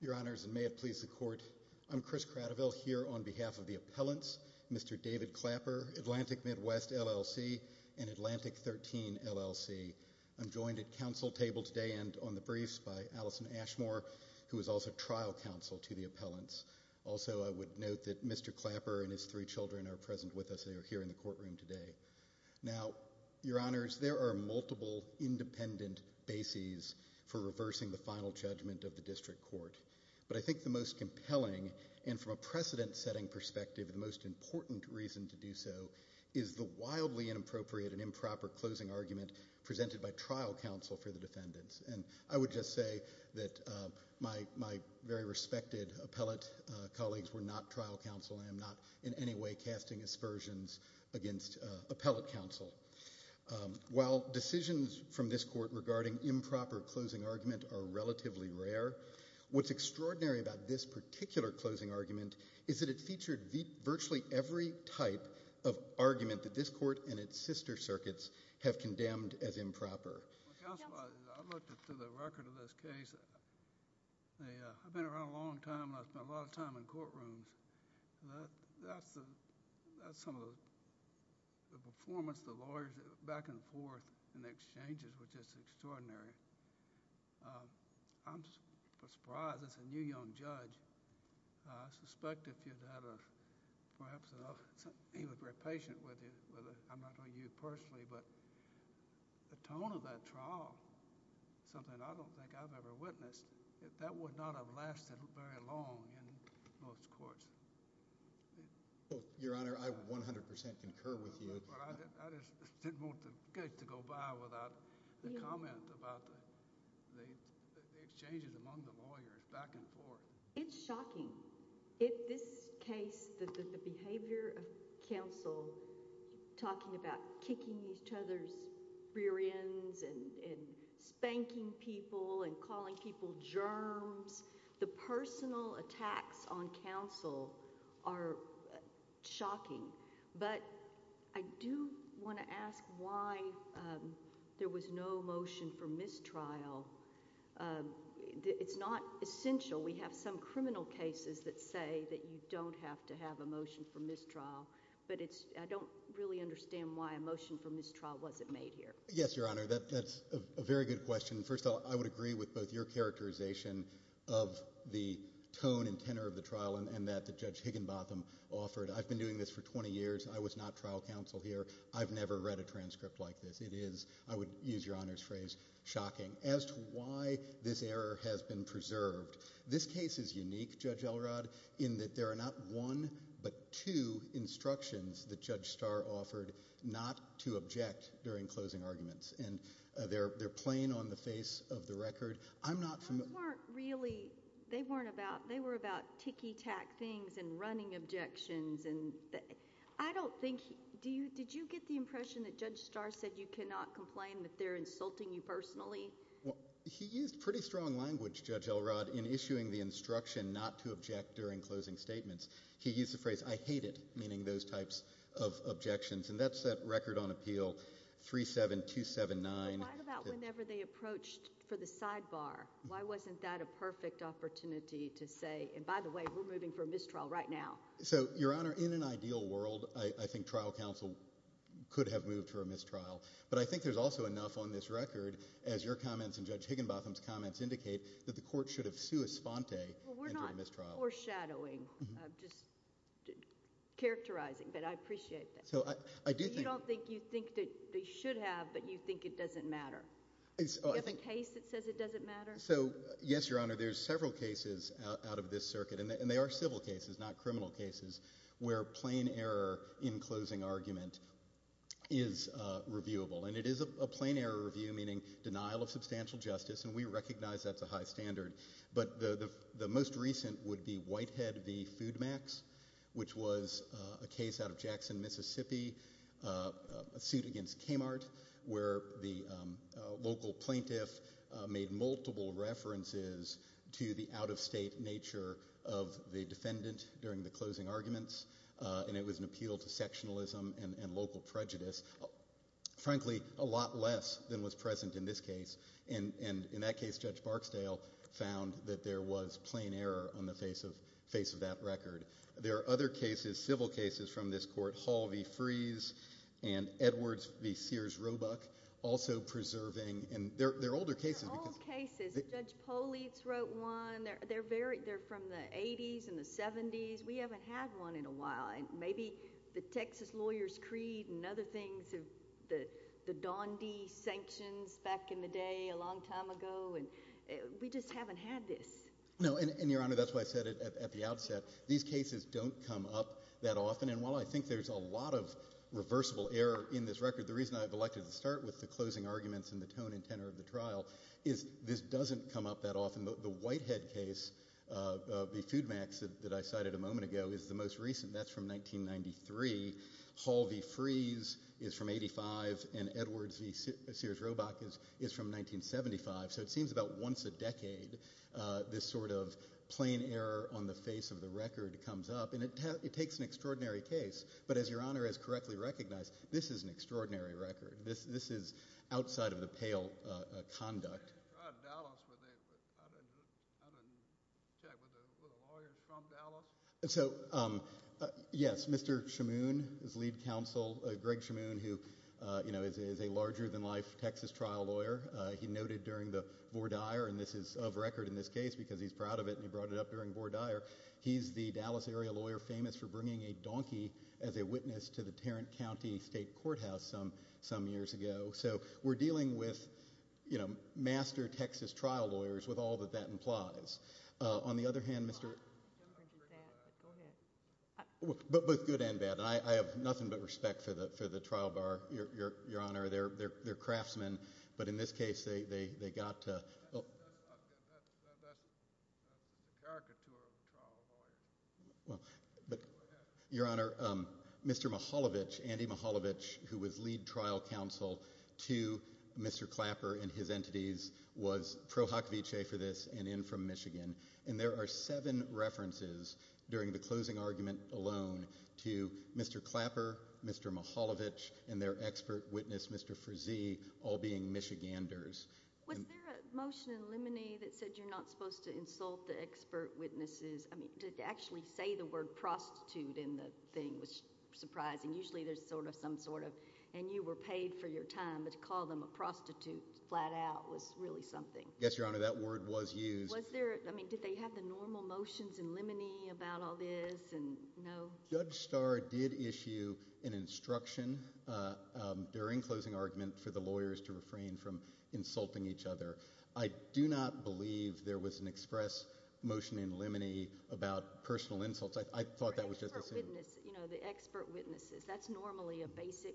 Your Honors, and may it please the Court, I'm Chris Cradiville here on behalf of the Appellants, Mr. David Clapper, Atlantic Midwest LLC and Atlantic 13 LLC. I'm joined at Council to the Appellants. Also, I would note that Mr. Clapper and his three children are present with us. They are here in the courtroom today. Now, Your Honors, there are multiple independent bases for reversing the final judgment of the District Court. But I think the most compelling and from a precedent-setting perspective, the most important reason to do so is the wildly inappropriate and improper closing argument presented by trial counsel for the defendants. I would just say that my very respected appellate colleagues were not trial counsel and I'm not in any way casting aspersions against appellate counsel. While decisions from this Court regarding improper closing argument are relatively rare, what's extraordinary about this particular closing argument is that it featured virtually every type of argument that this Court and its sister circuits have condemned as improper. Well, counsel, I looked through the record of this case. I've been around a long time and I've spent a lot of time in courtrooms. That's some of the performance of the lawyers back and forth in the exchanges which is extraordinary. I'm surprised as a new young judge, I suspect if I hadn't heard the tone of that trial, something I don't think I've ever witnessed, that would not have lasted very long in most courts. Your Honor, I 100% concur with you. But I just didn't want the case to go by without the comment about the exchanges among the lawyers back and forth. It's shocking. In this case, the behavior of counsel talking about kicking each other's rear ends and spanking people and calling people germs, the personal attacks on counsel are shocking. But I do want to ask why there was no motion for mistrial. It's not essential. We have some criminal cases that say that you don't have to have a motion for mistrial, but I don't really understand why a motion for mistrial wasn't made here. Yes, Your Honor, that's a very good question. First of all, I would agree with both your characterization of the tone and tenor of the trial and that that Judge Higginbotham offered. I've been doing this for 20 years. I was not trial counsel here. I've never read a transcript like this. It is, I would use Your Honor's phrase, shocking. As to why this error has been preserved, this case is unique, Judge Elrod, in that there are not one but two instructions that Judge Starr offered not to object during closing arguments, and they're plain on the face of the record. I'm not familiar— Those weren't really—they were about ticky-tack things and running objections. Did you get the impression that Judge Starr said you cannot complain, that they're insulting you personally? He used pretty strong language, Judge Elrod, in issuing the instruction not to object during closing statements. He used the phrase, I hate it, meaning those types of objections, and that's that record on appeal, 37279. Well, what about whenever they approached for the sidebar? Why wasn't that a perfect opportunity to say, and by the way, we're moving for a mistrial right now? So, Your Honor, in an ideal world, I think trial counsel could have moved for a mistrial, but I think there's also enough on this record, as your comments and Judge Higginbotham's comments indicate, that the court should have suus fonte and do a mistrial. Well, we're not foreshadowing, just characterizing, but I appreciate that. So, I do think— You don't think you think that they should have, but you think it doesn't matter. You have a case that says it doesn't matter? So, yes, Your Honor, there's several cases out of this circuit, and they are civil cases, not criminal cases, where plain error in closing argument is reviewable, and it is a plain error review, meaning denial of substantial justice, and we recognize that's a high standard, but the most recent would be Whitehead v. Foodmax, which was a case out of Jackson, Mississippi, a suit against Kmart, where the local plaintiff made multiple references to the out-of-state nature of the defendant during the closing and local prejudice, frankly, a lot less than was present in this case, and in that case, Judge Barksdale found that there was plain error on the face of that record. There are other cases, civil cases, from this court, Hall v. Fries and Edwards v. Sears-Robuck, also preserving— They're old cases. Judge Poliz wrote one. They're from the 80s and the 70s. We haven't had one in maybe the Texas Lawyers' Creed and other things, the Donde sanctions back in the day a long time ago, and we just haven't had this. No, and, Your Honor, that's why I said it at the outset. These cases don't come up that often, and while I think there's a lot of reversible error in this record, the reason I've elected to start with the closing arguments and the tone and tenor of the trial is this doesn't come up that often. The Whitehead case, v. Foodmax, that I cited a moment ago, is the most recent. That's from 1993. Hall v. Fries is from 85, and Edwards v. Sears-Robuck is from 1975, so it seems about once a decade, this sort of plain error on the face of the record comes up, and it takes an extraordinary case, but as Your Honor has correctly recognized, this is an extraordinary record. This is outside of the pale conduct. I'm from Dallas, but I didn't check. Were the lawyers from Dallas? So, yes, Mr. Shamoon, his lead counsel, Greg Shamoon, who, you know, is a larger-than-life Texas trial lawyer. He noted during the Vore Dyer, and this is of record in this case because he's proud of it, and he brought it up during Vore Dyer. He's the Dallas area lawyer famous for bringing a donkey as a witness to the Tarrant County State Courthouse some years ago, so we're dealing with, you know, master Texas trial lawyers with all that that implies. On the other hand, Mr. Both good and bad. I have nothing but respect for the trial bar, Your Honor. They're craftsmen, but in this case, they got to... Your Honor, Mr. Mihaljevic, Andy Mihaljevic, who was lead trial counsel to Mr. Clapper and his entities, was pro hoc vicee for this and in from Michigan, and there are seven references during the closing argument alone to Mr. Clapper, Mr. Mihaljevic, and their expert witness, Mr. Frizee, all being Michiganders. Was there a motion in limine that said you're not supposed to insult the expert witnesses? I mean, to actually say the word prostitute in the thing was surprising. Usually, there's sort of some sort of, and you were paid for your time, but to call them a prostitute flat out was really something. Yes, Your Honor, that word was used. Was there, I mean, did they have the normal motions in limine about all this and no? Judge Starr did issue an instruction during closing argument for the lawyers to refrain from insulting each other. I do not believe there was an express motion in limine about personal insults. I thought that was just assumed. You know, the expert witnesses, that's normally a basic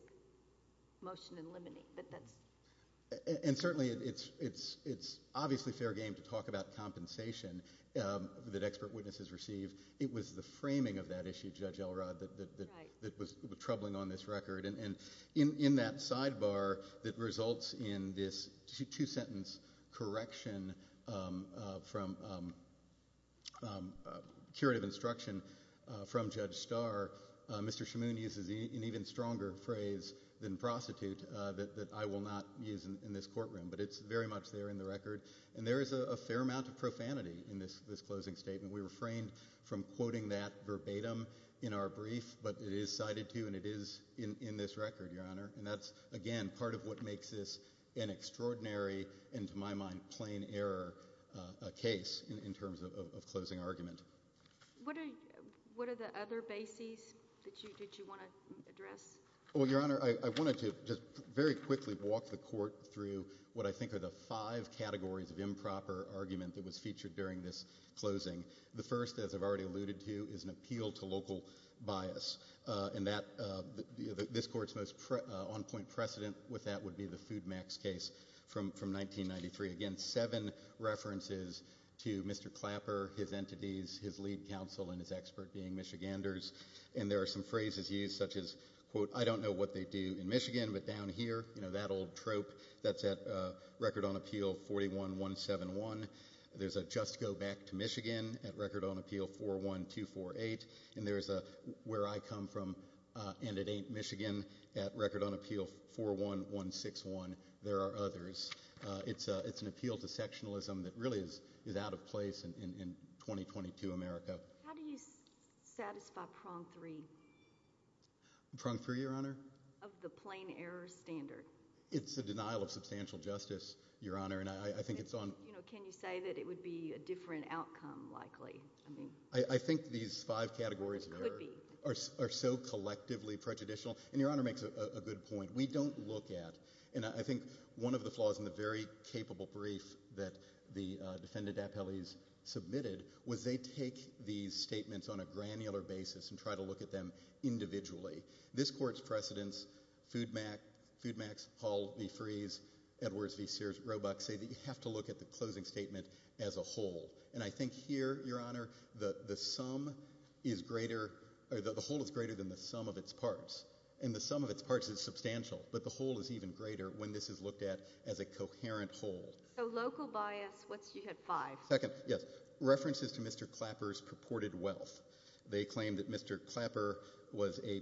motion in limine, but that's— And certainly, it's obviously fair game to talk about compensation that expert witnesses received. It was the framing of that issue, Judge Elrod, that was troubling on this record. In that sidebar that results in this two-sentence correction from a curative instruction from Judge Starr, Mr. Shimun uses an even stronger phrase than prostitute that I will not use in this courtroom, but it's very much there in the record. And there is a fair amount of profanity in this closing statement. We refrained from quoting that verbatim in our brief, but it is cited too, and it is in this record, Your Honor. And that's, again, part of what makes this an extraordinary and, to my mind, plain error case in terms of closing argument. What are the other bases that you did you want to address? Well, Your Honor, I wanted to just very quickly walk the court through what I think are the five categories of improper argument that was featured during this closing. The first, as I've already alluded to, is an appeal to local bias, and this court's most on-point precedent with that would be the Foodmax case from 1993. Again, seven references to Mr. Clapper, his entities, his lead counsel, and his expert being Michiganders. And there are some phrases used such as, quote, I don't know what they do in Michigan, but down here, you know, that old trope, that's at Record on Appeal 41171. There's a just go back to Michigan at Record on Appeal 41248. And there's a where I come from, and it ain't Michigan at Record on Appeal 41161. There are others. It's an appeal to sectionalism that really is out of place in 2022 America. How do you satisfy prong three? Prong three, Your Honor? Of the plain error standard. It's a denial of substantial justice, Your Honor, and I think it's on— You know, can you say that it would be a different outcome, likely? I think these five categories are so collectively prejudicial. And Your Honor makes a good point. We don't look at—and I think one of the flaws in the very capable brief that the defendant appellees submitted was they take these statements on a granular basis and try to look at them individually. This court's precedents, Foodmax, Paul V. Fries, Edwards V. Sears, Robach say that you have to look at the closing statement as a whole. And I think here, Your Honor, the sum is greater—the whole is greater than the sum of its parts. And the sum of its parts is substantial, but the whole is even greater when this is looked at as a coherent whole. So local bias, what's—you had five. Second, yes. References to Mr. Clapper's purported wealth. They claim that Mr. Clapper was a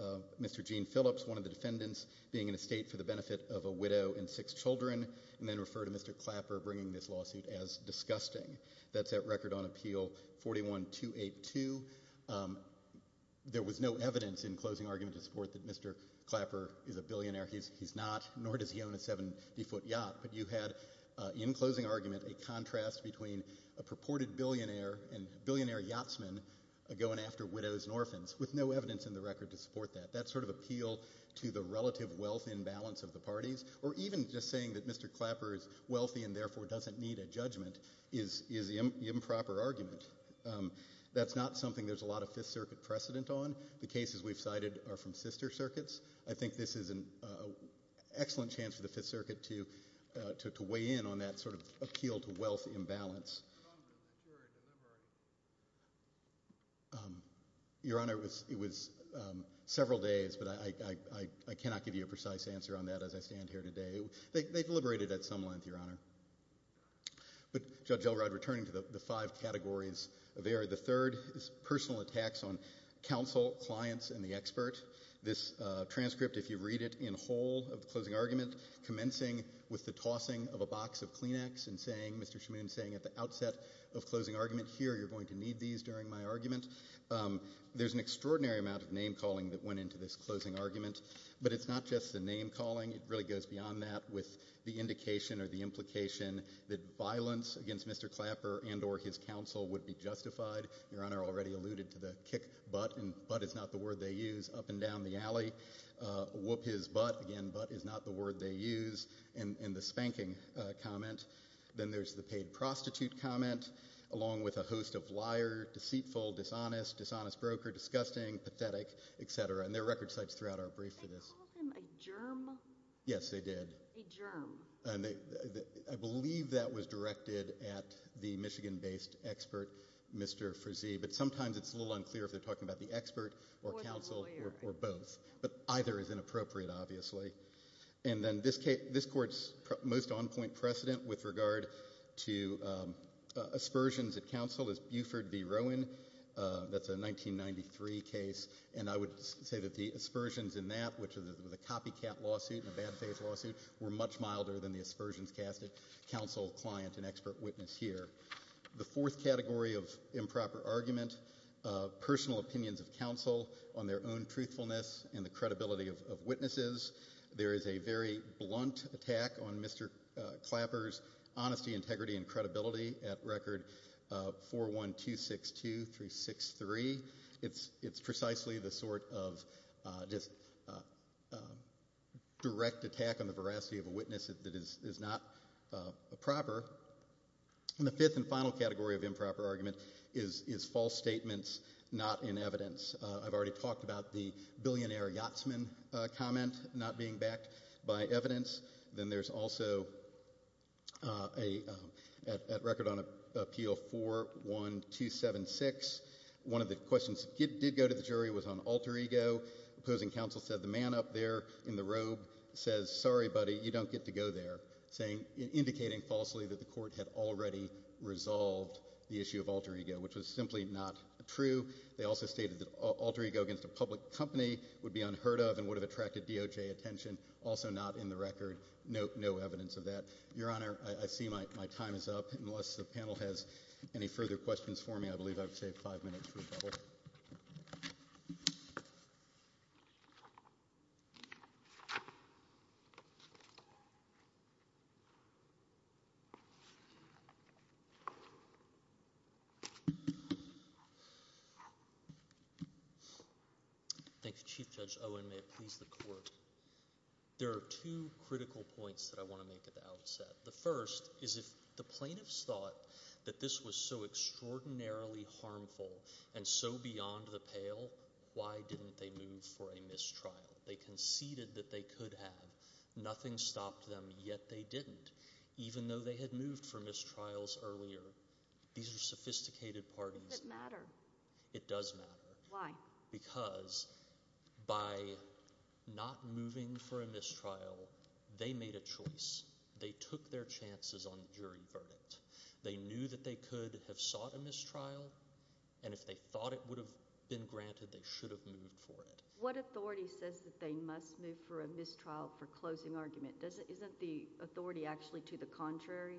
of Mr. Gene Phillips, one of the defendants, being in a state for the benefit of a widow and six children, and then refer to Mr. Clapper bringing this lawsuit as disgusting. That's at record on Appeal 41282. There was no evidence in closing argument to support that Mr. Clapper is a billionaire. He's not, nor does he own a 70-foot yacht. But you had, in closing argument, a contrast between a purported billionaire and billionaire yachtsman going after widows and orphans, with no evidence in the record to support that. That sort of appeal to the relative wealth imbalance of the parties, or even just saying that Mr. Clapper is wealthy and therefore doesn't need a judgment, is the improper argument. That's not something there's a lot of Fifth Circuit precedent on. The cases we've cited are from sister circuits. I think this is an excellent chance for the Fifth Circuit to weigh in on that appeal to wealth imbalance. Your Honor, it was several days, but I cannot give you a precise answer on that as I stand here today. They deliberated at some length, Your Honor. But Judge Elrod, returning to the five categories of error, the third is personal attacks on counsel, clients, and the expert. This transcript, if you read it in whole of the closing argument, commencing with the tossing of a box of Kleenex and Mr. Shmoon saying at the outset of closing argument, here, you're going to need these during my argument. There's an extraordinary amount of name-calling that went into this closing argument, but it's not just the name-calling. It really goes beyond that with the indication or the implication that violence against Mr. Clapper and or his counsel would be justified. Your Honor already alluded to the kick butt, and butt is not the word they use, up and down the alley. Whoop his butt, again, butt is not the word they use, and the spanking comment. Then there's the paid prostitute comment, along with a host of liar, deceitful, dishonest, dishonest broker, disgusting, pathetic, et cetera, and there are record sites throughout our brief for this. Did they call him a germ? Yes, they did. A germ. I believe that was directed at the Michigan-based expert, Mr. Frazee, but sometimes it's a little either is inappropriate, obviously, and then this court's most on-point precedent with regard to aspersions at counsel is Buford v. Rowan. That's a 1993 case, and I would say that the aspersions in that, which was a copycat lawsuit and a bad-faith lawsuit, were much milder than the aspersions cast at counsel, client, and expert witness, here. The fourth category of improper argument, personal opinions of counsel on their own truthfulness and the credibility of witnesses. There is a very blunt attack on Mr. Clapper's honesty, integrity, and credibility at record 41262-363. It's precisely the sort of direct attack on the veracity of a witness that is not proper. And the fifth and final category of improper argument is false statements not in evidence. I've already talked about the billionaire yachtsman comment not being backed by evidence. Then there's also at record on appeal 41276, one of the questions that did go to the jury was on alter ego. Opposing counsel said the man up there in the robe says, sorry, buddy, you don't get to alter ego there, indicating falsely that the court had already resolved the issue of alter ego, which was simply not true. They also stated that alter ego against a public company would be unheard of and would have attracted DOJ attention. Also not in the record. No evidence of that. Your Honor, I see my time is up. Unless the panel has any further questions for me, I believe I've saved five minutes for a double. Thank you, Chief Judge Owen. May it please the court. There are two critical points that I want to make at the outset. The first is if the plaintiffs thought that this was so extraordinarily harmful and so beyond the pale, why didn't they move for a mistrial? They conceded that they could have. Nothing stopped them, yet they didn't. Even though they had moved for mistrials earlier, these are sophisticated parties. Does it matter? It does matter. Why? Because by not moving for a mistrial, they made a choice. They took their chances on the jury verdict. They knew that they could have sought a mistrial, and if they thought it would have been granted, they should have moved for it. What authority says that they must move for a mistrial for closing argument? Isn't the authority actually to the contrary?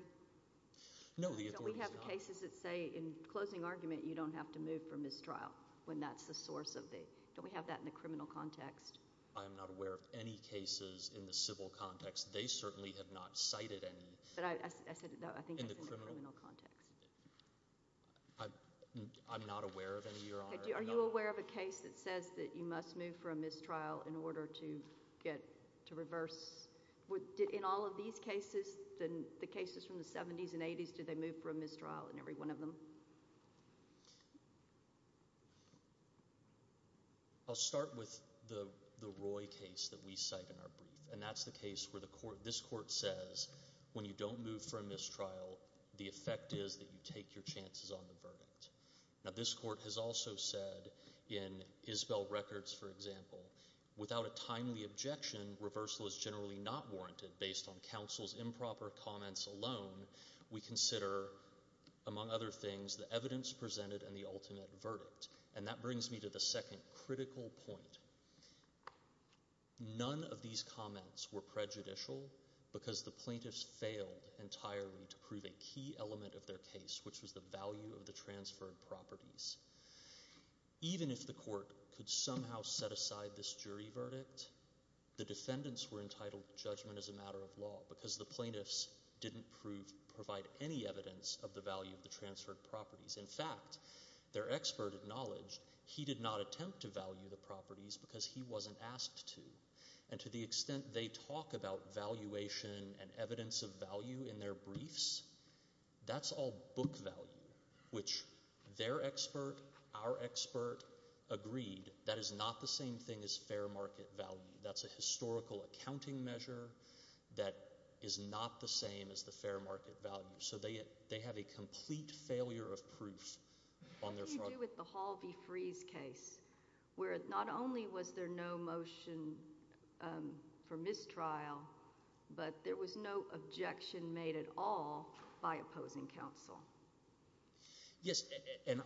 No, the authority is not. Don't we have cases that say in closing argument you don't have to move for mistrial when that's the source of it? Don't we have that in the criminal context? I'm not aware of any cases in the civil context. They certainly have not cited any. But I said I think it's in the criminal context. I'm not aware of any, Your Honor. Are you aware of a case that says that you must move for a mistrial in order to get to reverse? In all of these cases, the cases from the 70s and 80s, do they move for a mistrial in every one of them? I'll start with the Roy case that we cite in our brief, and that's the case where this court says when you don't move for a mistrial, the effect is that you take your chances on the evidence presented and the ultimate verdict. And that brings me to the second critical point. None of these comments were prejudicial because the plaintiffs failed entirely to prove a key properties. Even if the court could somehow set aside this jury verdict, the defendants were entitled to judgment as a matter of law because the plaintiffs didn't provide any evidence of the value of the transferred properties. In fact, their expert acknowledged he did not attempt to value the properties because he wasn't asked to. And to the extent they talk about valuation and their expert, our expert, agreed that is not the same thing as fair market value. That's a historical accounting measure that is not the same as the fair market value. So they have a complete failure of proof on their part. How do you deal with the Hall v. Fries case, where not only was there no motion for mistrial, but there was no objection made at all by opposing counsel? Yes, and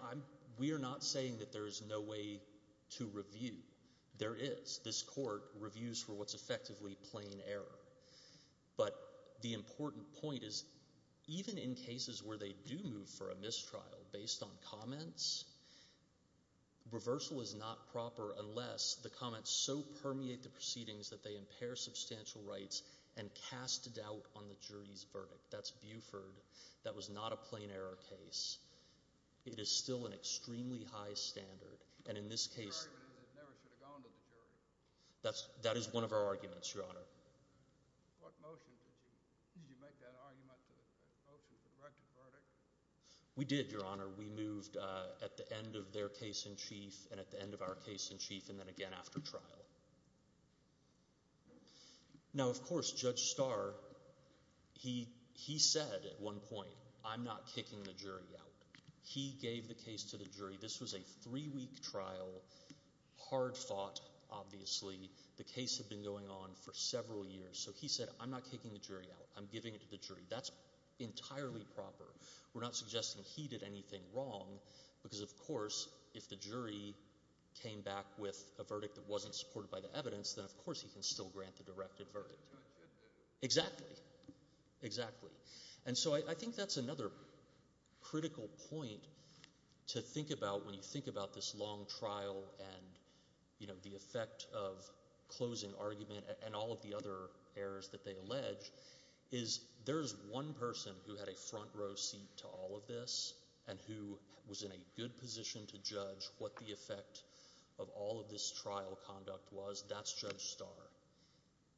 we are not saying that there is no way to review. There is. This court reviews for what's effectively plain error. But the important point is, even in cases where they do move for a mistrial based on comments, reversal is not proper unless the comments so permeate the proceedings that they impair substantial rights and cast doubt on the that was not a plain error case. It is still an extremely high standard. And in this case, that is one of our arguments, your honor. We did, your honor. We moved at the end of their case in chief and at the end of our case in chief and then again after trial. Now, of course, Judge Starr, he said at one point, I'm not kicking the jury out. He gave the case to the jury. This was a three-week trial, hard fought, obviously. The case had been going on for several years. So he said, I'm not kicking the jury out. I'm giving it to the jury. That's entirely proper. We're not suggesting he did anything wrong, because, of course, if the jury came back with a verdict that wasn't supported by the evidence, then, of course, he can still grant the directed verdict. Exactly. Exactly. And so I think that's another critical point to think about when you think about this long trial and, you know, the effect of closing argument and all of the other errors that they allege, is there's one person who had a front row seat to all of this and who was in a good position to judge what the effect of all of this trial conduct was. That's Judge Starr.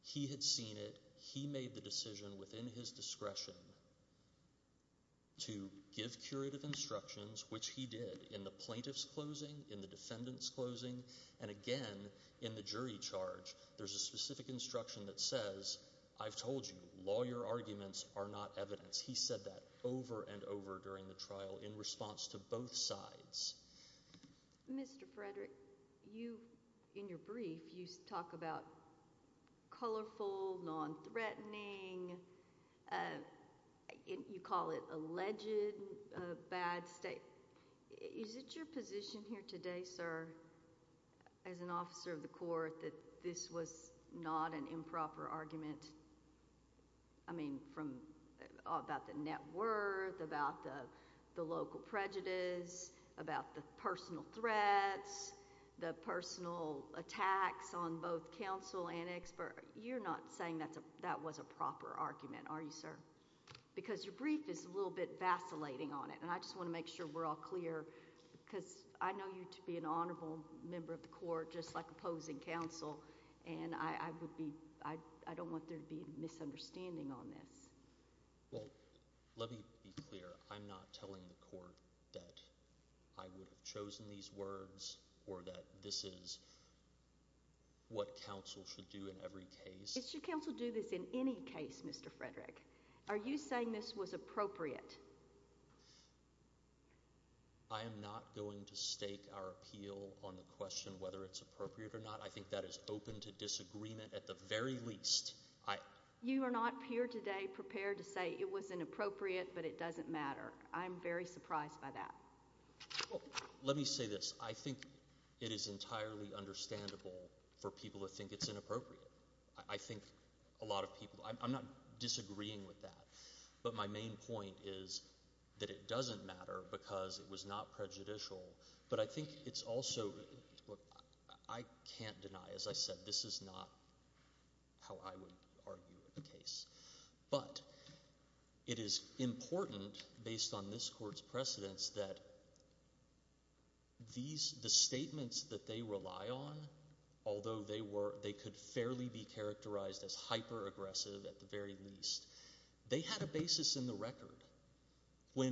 He had seen it. He made the decision within his discretion to give curative instructions, which he did in the plaintiff's closing, in the defendant's closing, and again in the jury charge. There's a specific instruction that says, I've told you, lawyer arguments are not evidence. He said that over and over during the trial in response to both sides. Mr. Frederick, you, in your brief, you talk about colorful, non-threatening, you call it alleged bad state. Is it your position here today, sir, as an officer of the court, that this was not an improper argument? I mean, about the net worth, about the local prejudice, about the personal threats, the personal attacks on both counsel and expert. You're not saying that was a proper argument, are you, sir? Because your brief is a little bit vacillating on it, and I just want to make sure we're all clear because I know you to be an honorable member of the court, just like opposing counsel, and I don't want there to be misunderstanding on this. Well, let me be clear. I'm not telling the court that I would have chosen these words or that this is what counsel should do in every case. Should counsel do this in any Mr. Frederick, are you saying this was appropriate? I am not going to stake our appeal on the question whether it's appropriate or not. I think that is open to disagreement at the very least. You are not here today prepared to say it was inappropriate, but it doesn't matter. I'm very surprised by that. Well, let me say this. I think it is entirely understandable for people to think it's inappropriate. I think a lot of people, I'm not disagreeing with that, but my main point is that it doesn't matter because it was not prejudicial, but I think it's also, I can't deny, as I said, this is not how I would argue the case, but it is important based on this court's precedents that the statements that they rely on, although they could fairly be characterized as hyper-aggressive at the very least, they had a basis in the record. The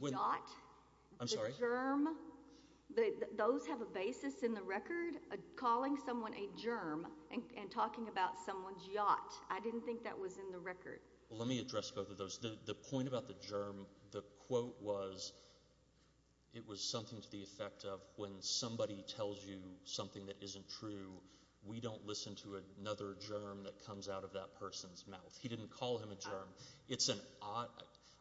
yacht, the germ, those have a basis in the record, calling someone a germ and talking about someone's yacht. I didn't think that was in the record. Let me address both of those. The point about the germ, the quote was, it was something to the effect of when somebody tells you something that isn't true, we don't listen to another germ that comes out of that person's mouth. He didn't call him a germ.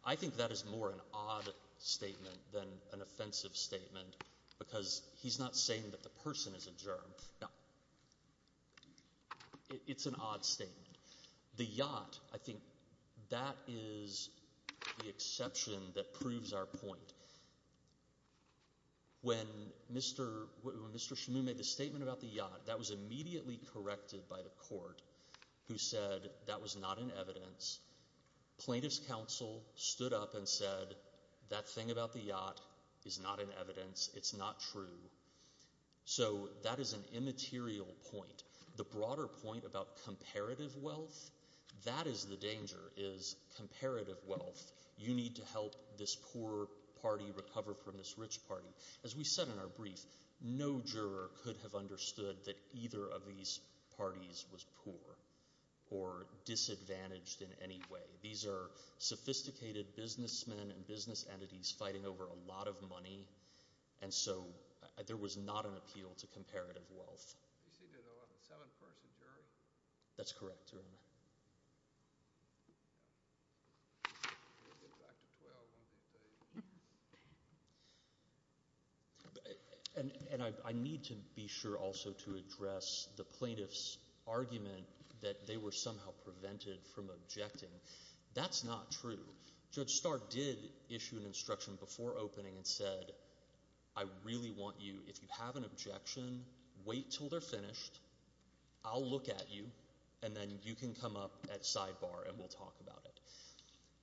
I think that is more an odd statement than an offensive statement because he's not saying that the person is a germ. It's an odd statement. The yacht, I think that is the exception that proves our point. When Mr. Shamu made the statement about the yacht, that was immediately corrected by the court who said that was not in evidence. Plaintiff's counsel stood up and said, that thing about the yacht is not in evidence. It's not true. That is an immaterial point. The broader point about comparative wealth, that is the danger, is comparative wealth. You need to help this poor party recover from this rich party. As we said in our brief, no juror could have understood that either of these parties was poor or disadvantaged in any way. These are sophisticated businessmen and business entities fighting over a lot of money, and so there was not an appeal to comparative wealth. You said there's a seven-person jury? That's correct, Your Honor. And I need to be sure also to address the plaintiff's argument that they were somehow prevented from objecting. That's not true. Judge Starr did issue an instruction before opening and I said, I really want you, if you have an objection, wait until they're finished, I'll look at you, and then you can come up at sidebar and we'll talk about it.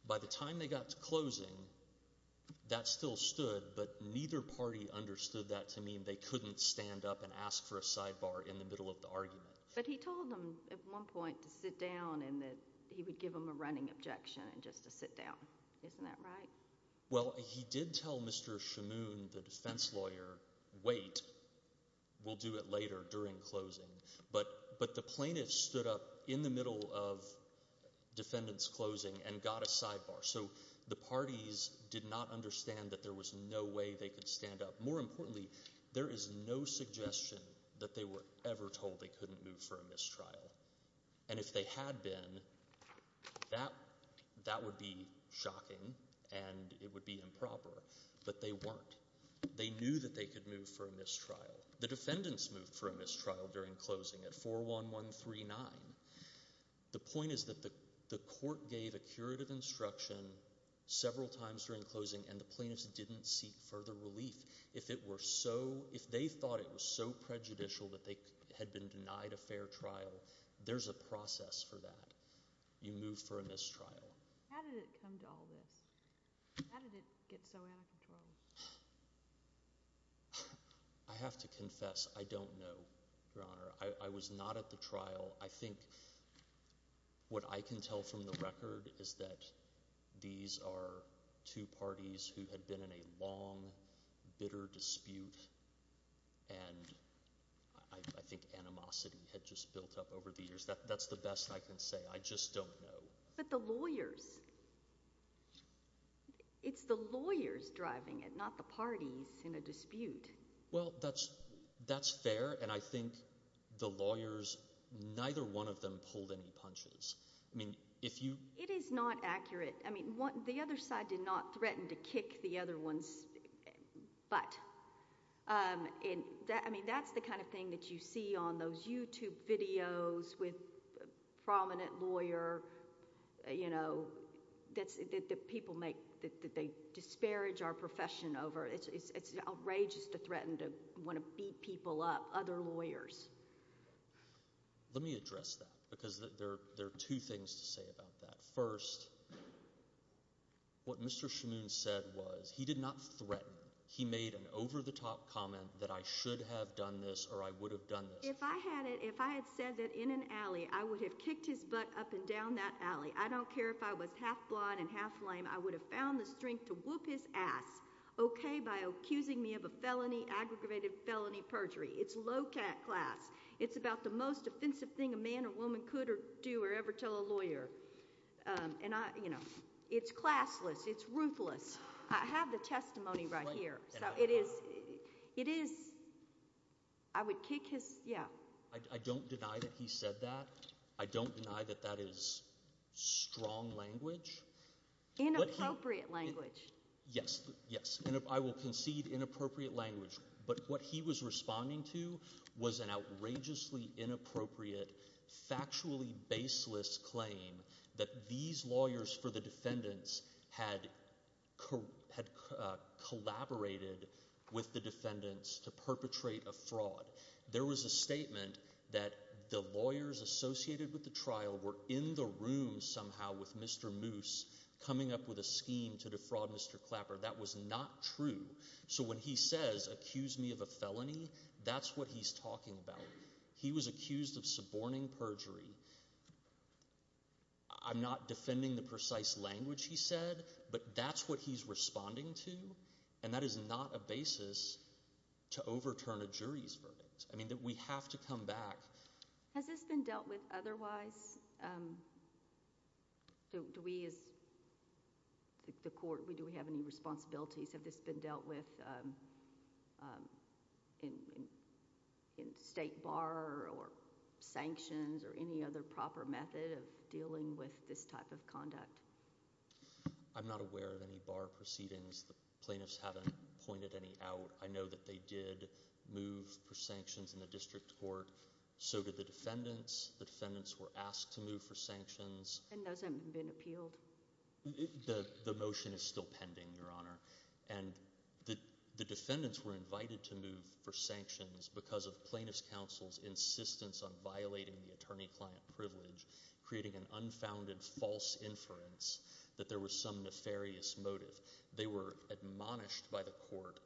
By the time they got to closing, that still stood, but neither party understood that to mean they couldn't stand up and ask for a sidebar in the middle of the argument. But he told them at one point to sit down and that he would give them a running objection and just to sit down. Isn't that right? Well, he did tell Mr. Shamoon, the defense lawyer, wait, we'll do it later during closing, but the plaintiff stood up in the middle of defendant's closing and got a sidebar, so the parties did not understand that there was no way they could stand up. More importantly, there is no suggestion that they were ever told they would be shocking and it would be improper, but they weren't. They knew that they could move for a mistrial. The defendants moved for a mistrial during closing at 41139. The point is that the court gave a curative instruction several times during closing and the plaintiffs didn't seek further relief. If they thought it was so prejudicial that they had been denied a fair trial, there's a process for that. You move for a mistrial. How did it come to all this? How did it get so out of control? I have to confess, I don't know, Your Honor. I was not at the trial. I think what I can tell from the record is that these are two parties who had been in a bitter dispute and I think animosity had just built up over the years. That's the best I can say. I just don't know. But the lawyers, it's the lawyers driving it, not the parties in a dispute. Well, that's fair and I think the lawyers, neither one of them pulled any punches. I mean, if you... It is not accurate. I mean, the other side did not threaten to kick the other one's butt. I mean, that's the kind of thing that you see on those YouTube videos with prominent lawyer, you know, that people make, that they disparage our profession over. It's outrageous to threaten to want to beat people up, other lawyers. Let me address that because there are two things to say about that. First, what Mr. Shmoon said was, he did not threaten. He made an over-the-top comment that I should have done this or I would have done this. If I had it, if I had said that in an alley, I would have kicked his butt up and down that alley, I don't care if I was half-blind and half-lame, I would have found the strength to whoop his ass, okay, by accusing me of a felony, aggravated felony perjury. It's low-cat class. It's about the most offensive thing a man or woman could or do or ever tell a lawyer and I, you know, it's classless, it's ruthless. I have the testimony right here, so it is, it is, I would kick his, yeah. I don't deny that he said that. I don't deny that that is strong language. Inappropriate language. Yes, yes, and I will concede inappropriate language, but what he was responding to was an outrageously inappropriate, factually baseless claim that these lawyers for the defendants had collaborated with the defendants to perpetrate a fraud. There was a statement that the lawyers associated with the trial were in the room somehow with Mr. Moose, coming up with a scheme to defraud Mr. Clapper. That was not true, so when he says accuse me of a felony, that's what he's talking about. He was accused of suborning perjury. I'm not defending the precise language he said, but that's what he's responding to and that is not a basis to overturn a jury's verdict. I mean that we have to come back. Has this been dealt with otherwise? Do we as the court, do we have any responsibilities? Have this been dealt with in state bar or sanctions or any other proper method of dealing with this type of conduct? I'm not aware of any bar proceedings. The plaintiffs haven't pointed any out. I know they did move for sanctions in the district court, so did the defendants. The defendants were asked to move for sanctions. And those haven't been appealed? The motion is still pending, Your Honor, and the defendants were invited to move for sanctions because of plaintiff's counsel's insistence on violating the attorney-client privilege, creating an unfounded false inference that there was some nefarious motive. They were admonished by the court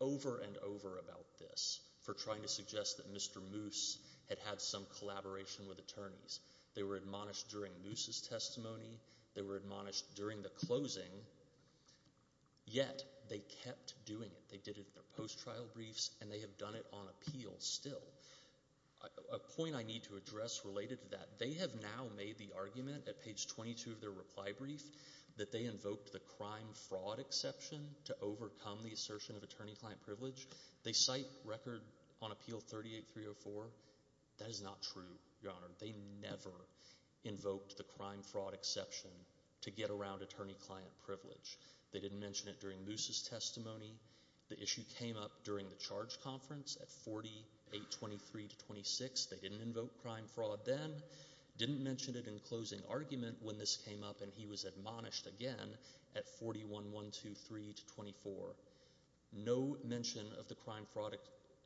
over and over about this for trying to suggest that Mr. Moose had had some collaboration with attorneys. They were admonished during Moose's testimony, they were admonished during the closing, yet they kept doing it. They did it in their post-trial briefs and they have done it on appeal still. A point I need to address related to that, they have now made the argument at page 22 of their reply brief that they invoked the crime-fraud exception to overcome the assertion of attorney-client privilege. They cite record on appeal 38304. That is not true, Your Honor. They never invoked the crime-fraud exception to get around attorney-client privilege. They didn't mention it during Moose's testimony. The issue came up during the charge conference at 4823-26. They didn't invoke crime-fraud then, didn't mention it in closing argument when this came up and he was admonished again at 41123-24. No mention of the crime-fraud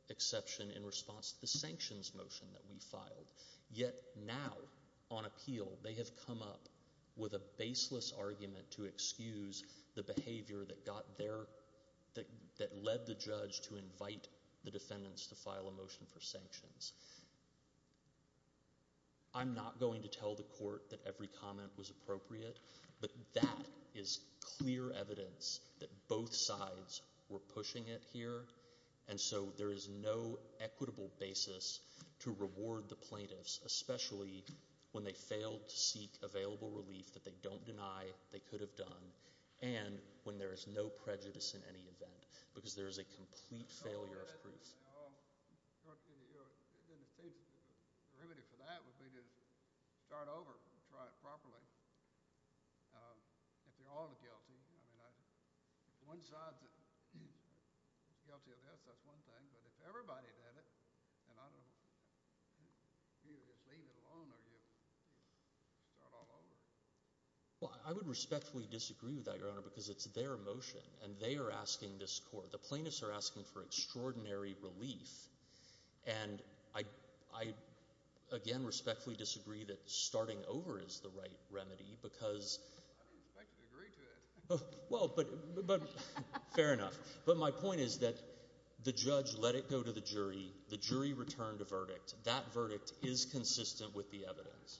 exception in response to the sanctions motion that we filed. Yet now, on appeal, they have come up with a baseless argument to excuse the behavior that led the judge to invite the defendants to file a motion for sanctions. I'm not going to tell the court that every comment was appropriate, but that is clear evidence that both sides were pushing it here. And so there is no equitable basis to reward the plaintiffs, especially when they failed to seek available relief that they don't deny they could have done, and when there is no prejudice in any event, because there is a sense that the remedy for that would be to start over and try it properly. If you're all guilty, I mean, one side's guilty of this, that's one thing, but if everybody did it, then I don't know, you either just leave it alone or you start all over. Well, I would respectfully disagree with that, Your Honor, because it's their motion, and they are asking this court, the plaintiffs are asking for extraordinary relief, and I, again, respectfully disagree that starting over is the right remedy, because— I don't think you'd agree to it. Well, but, fair enough. But my point is that the judge let it go to the jury, the jury returned a verdict. That verdict is consistent with the evidence. Well, of course, of course.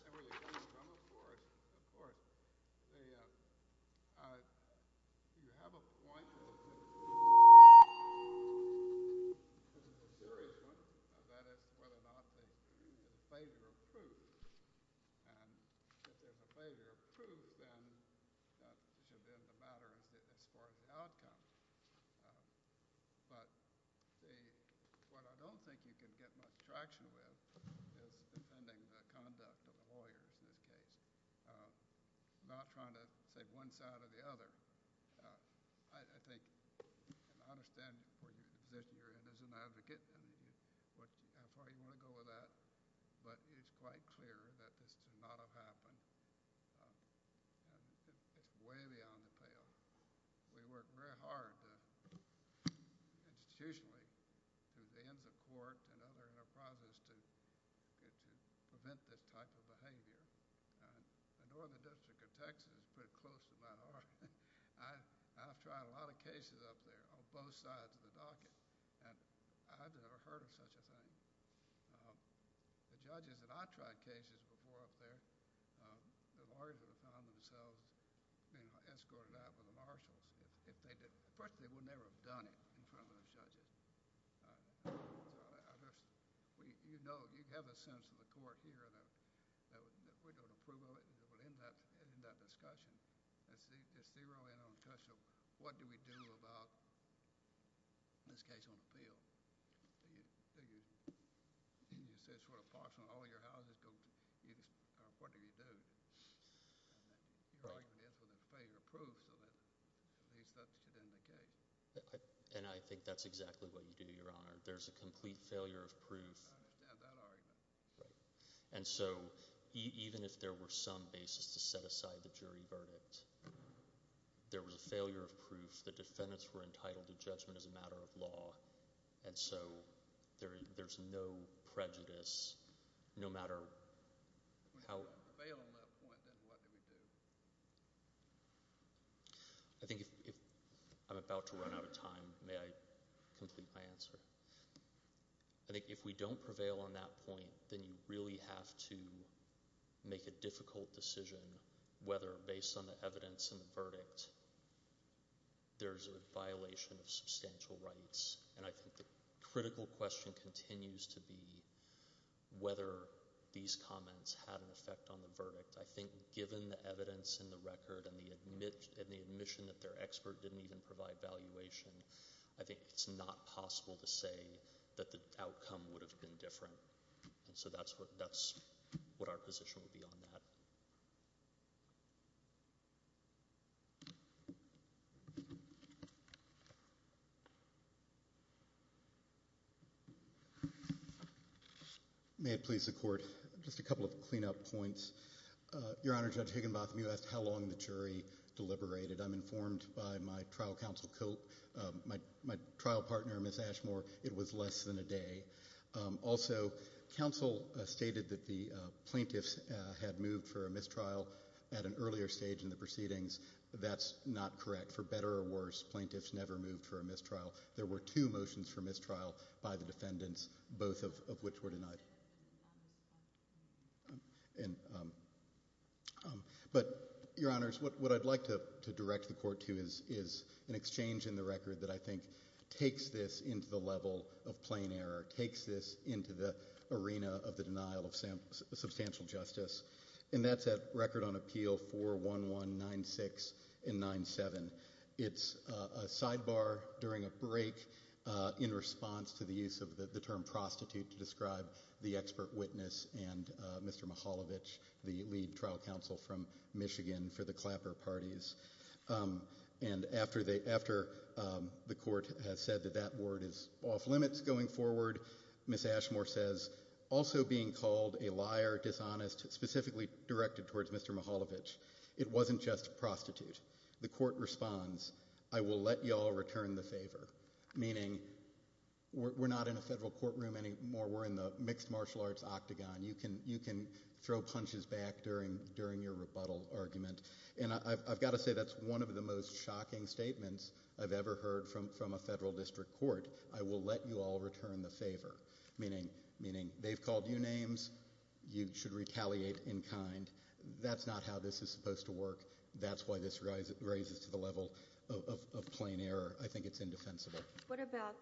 You have a point, because it's the jury's point, and that is whether or not the failure of proof, and if there's a failure of proof, then that should end the matter as far as the outcome. But what I don't think you can get much traction with is defending the conduct of the lawyers in this case, not trying to save one side or the other. I think, and I understand where you're in as an advocate, and how far you want to go with that, but it's quite clear that this could not have happened, and it's way beyond the payoff. We work very hard, institutionally, through the ends of court and other enterprises to prevent this type of behavior. The Northern District of Texas is pretty close to my heart. I've tried a lot of cases up there on both sides of the docket, and I've never heard of such a thing. The judges that I've tried cases before up there, the lawyers at the time themselves escorted out with the marshals. If they did, frankly, they would never have done it in front of the judges. You know, you'd have a sense in the court here that we don't approve of it, but in that discussion, it's the early on question of what do we do about this case on the field? You figure, you say sort of approximately all your houses go, what do you do? You argue this with plenty of proof so that at least that's the end of the case. And I think that's exactly what you do, Your Honor. There's a complete failure of proof. Yeah, that argument. Right, and so even if there were some basis to set aside the jury verdict, there was a failure of proof. The defendants were entitled to judgment as a matter of law, and so there's no prejudice, no matter how— If we don't prevail on that point, then what do we do? I think if—I'm about to run out of time. May I complete my answer? I think if we don't prevail on that point, then you really have to make a difficult decision whether, based on the evidence and the verdict, there's a violation of substantial rights. And I think the critical question continues to be whether these comments had an effect on the verdict. I think given the evidence in the record and the admission that their expert didn't even provide valuation, I think it's not possible to say that the outcome would have been different. And so that's what our position would be on that. May it please the Court, just a couple of cleanup points. Your Honor, Judge Higginbotham, you asked how long the jury deliberated. I'm informed by my trial counsel, my trial partner, Ms. Ashmore, it was less than a day. Also, counsel stated that the plaintiffs had moved for a mistrial at an earlier stage in the proceedings. That's not correct. For better or worse, plaintiffs never moved for a mistrial. There were two motions for mistrial by the defendants, both of which were denied. But, Your Honors, what I'd like to direct the Court to is an exchange in the record that I think takes this into the level of plain error, takes this into the arena of the denial of substantial justice. And that's at Record on Appeal 41196 and 97. It's a sidebar during a break in response to the use of the term prostitute to describe the expert witness and Mr. Mihaljevic, the lead trial counsel from Michigan for the Clapper parties. And after the Court has said that that word is off limits going forward, Ms. Ashmore says, also being called a liar, dishonest, specifically directed towards Mr. Mihaljevic. It wasn't just prostitute. The Court responds, I will let you all return the favor, meaning we're not in a federal courtroom anymore. We're in the mixed martial arts octagon. You can throw punches back during your rebuttal argument. And I've got to say that's one of the most shocking statements I've ever heard from a federal district court. I will let you all return the favor, meaning they've called you names. You should retaliate in kind. That's not how this is supposed to work. That's why this raises to the level of plain error. I think it's indefensible. What about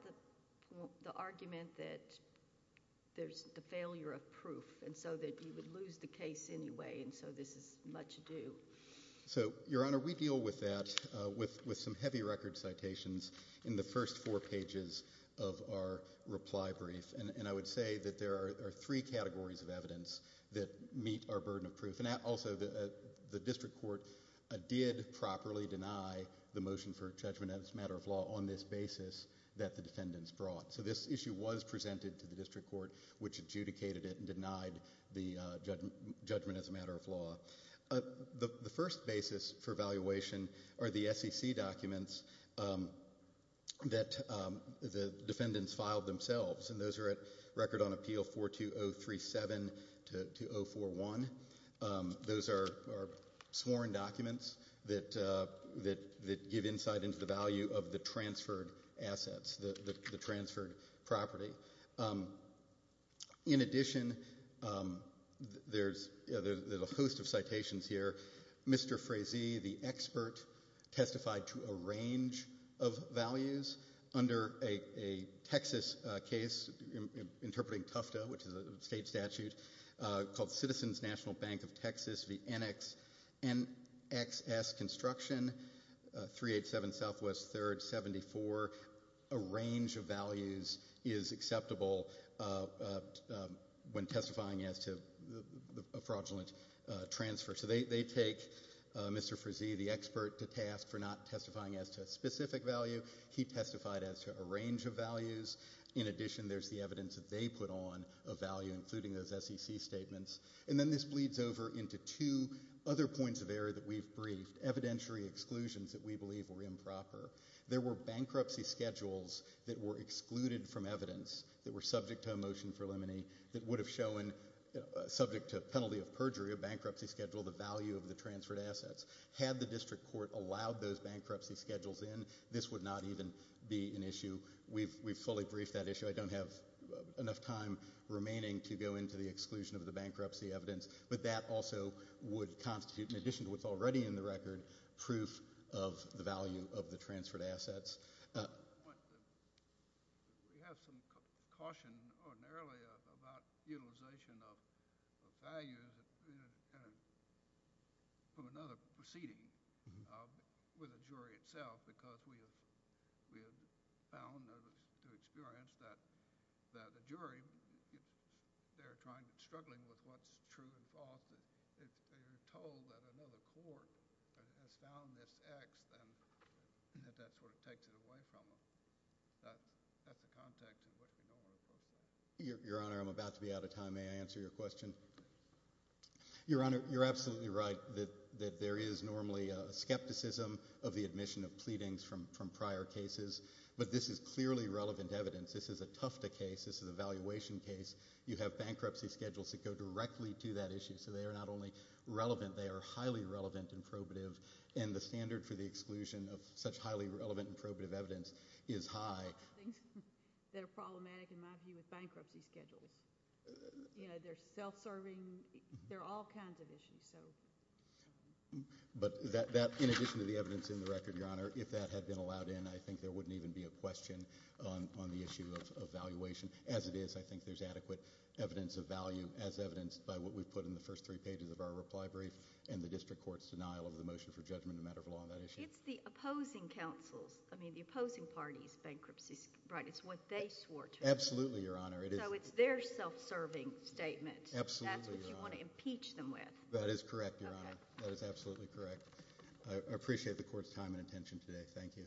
the argument that there's the failure of proof and so that you would lose the case anyway and so this is much ado? So, Your Honor, we deal with that with some heavy record citations in the first four pages of our reply brief. And I would say that there are three categories of evidence that meet our burden of proof. Also, the district court did properly deny the motion for judgment as a matter of law on this basis that the defendants brought. So this issue was presented to the district court, which adjudicated it and denied the judgment as a matter of law. The first basis for evaluation are the SEC documents that the defendants filed themselves. And those are at Record on Appeal 42037-041. Those are sworn documents that give insight into the value of the transferred assets, the transferred property. In addition, there's a host of citations here. Mr. Frazee, the expert, testified to a range of values under a Texas case interpreting Tufta, which is a state statute, called Citizens National Bank of Texas v. NXS Construction 387 Southwest 3rd 74. A range of values is acceptable when testifying as to a fraudulent transfer. So they take Mr. Frazee, the expert, to task for not testifying as to a specific value. He testified as to a range of values. In addition, there's the evidence that they put on of value, including those SEC statements. And then this bleeds over into two other points of error that we've briefed, evidentiary exclusions that we believe were improper. There were bankruptcy schedules that were excluded from evidence that were subject to a motion for limine, that would have shown, subject to penalty of perjury, a bankruptcy schedule, the value of the transferred assets. Had the district court allowed those bankruptcy schedules in, this would not even be an issue. We've fully briefed that issue. I don't have enough time remaining to go into the exclusion of the bankruptcy evidence. But that also would constitute, in addition to what's already in the record, proof of the value of the transferred assets. I just want to make a point that we have some caution ordinarily about utilization of values from another proceeding with a jury itself because we have found, through experience, that the jury, they're struggling with what's true and false. If they're told that another court has found this X, then that sort of takes it away from them. That's the context of what you're normally supposed to do. Your Honor, I'm about to be out of time. May I answer your question? Your Honor, you're absolutely right that there is normally skepticism of the admission of pleadings from prior cases. But this is clearly relevant evidence. This is a Tufta case. This is a valuation case. You have bankruptcy schedules that go directly to that issue. So they are not only relevant, they are highly relevant and probative. And the standard for the exclusion of such highly relevant and probative evidence is high. There are a lot of things that are problematic, in my view, with bankruptcy schedules. You know, they're self-serving. There are all kinds of issues, so. But that, in addition to the evidence in the record, Your Honor, if that had been allowed in, I think there wouldn't even be a question on the issue of valuation. As it is, I think there's adequate evidence of value as evidenced by what we've put in the first three pages of our reply brief and the district court's denial of the motion for judgment in a matter of law on that issue. It's the opposing counsels. I mean, the opposing parties' bankruptcies, right? It's what they swore to. Absolutely, Your Honor. So it's their self-serving statement. Absolutely, Your Honor. That's what you want to impeach them with. That is correct, Your Honor. That is absolutely correct. I appreciate the court's time and attention today. Thank you.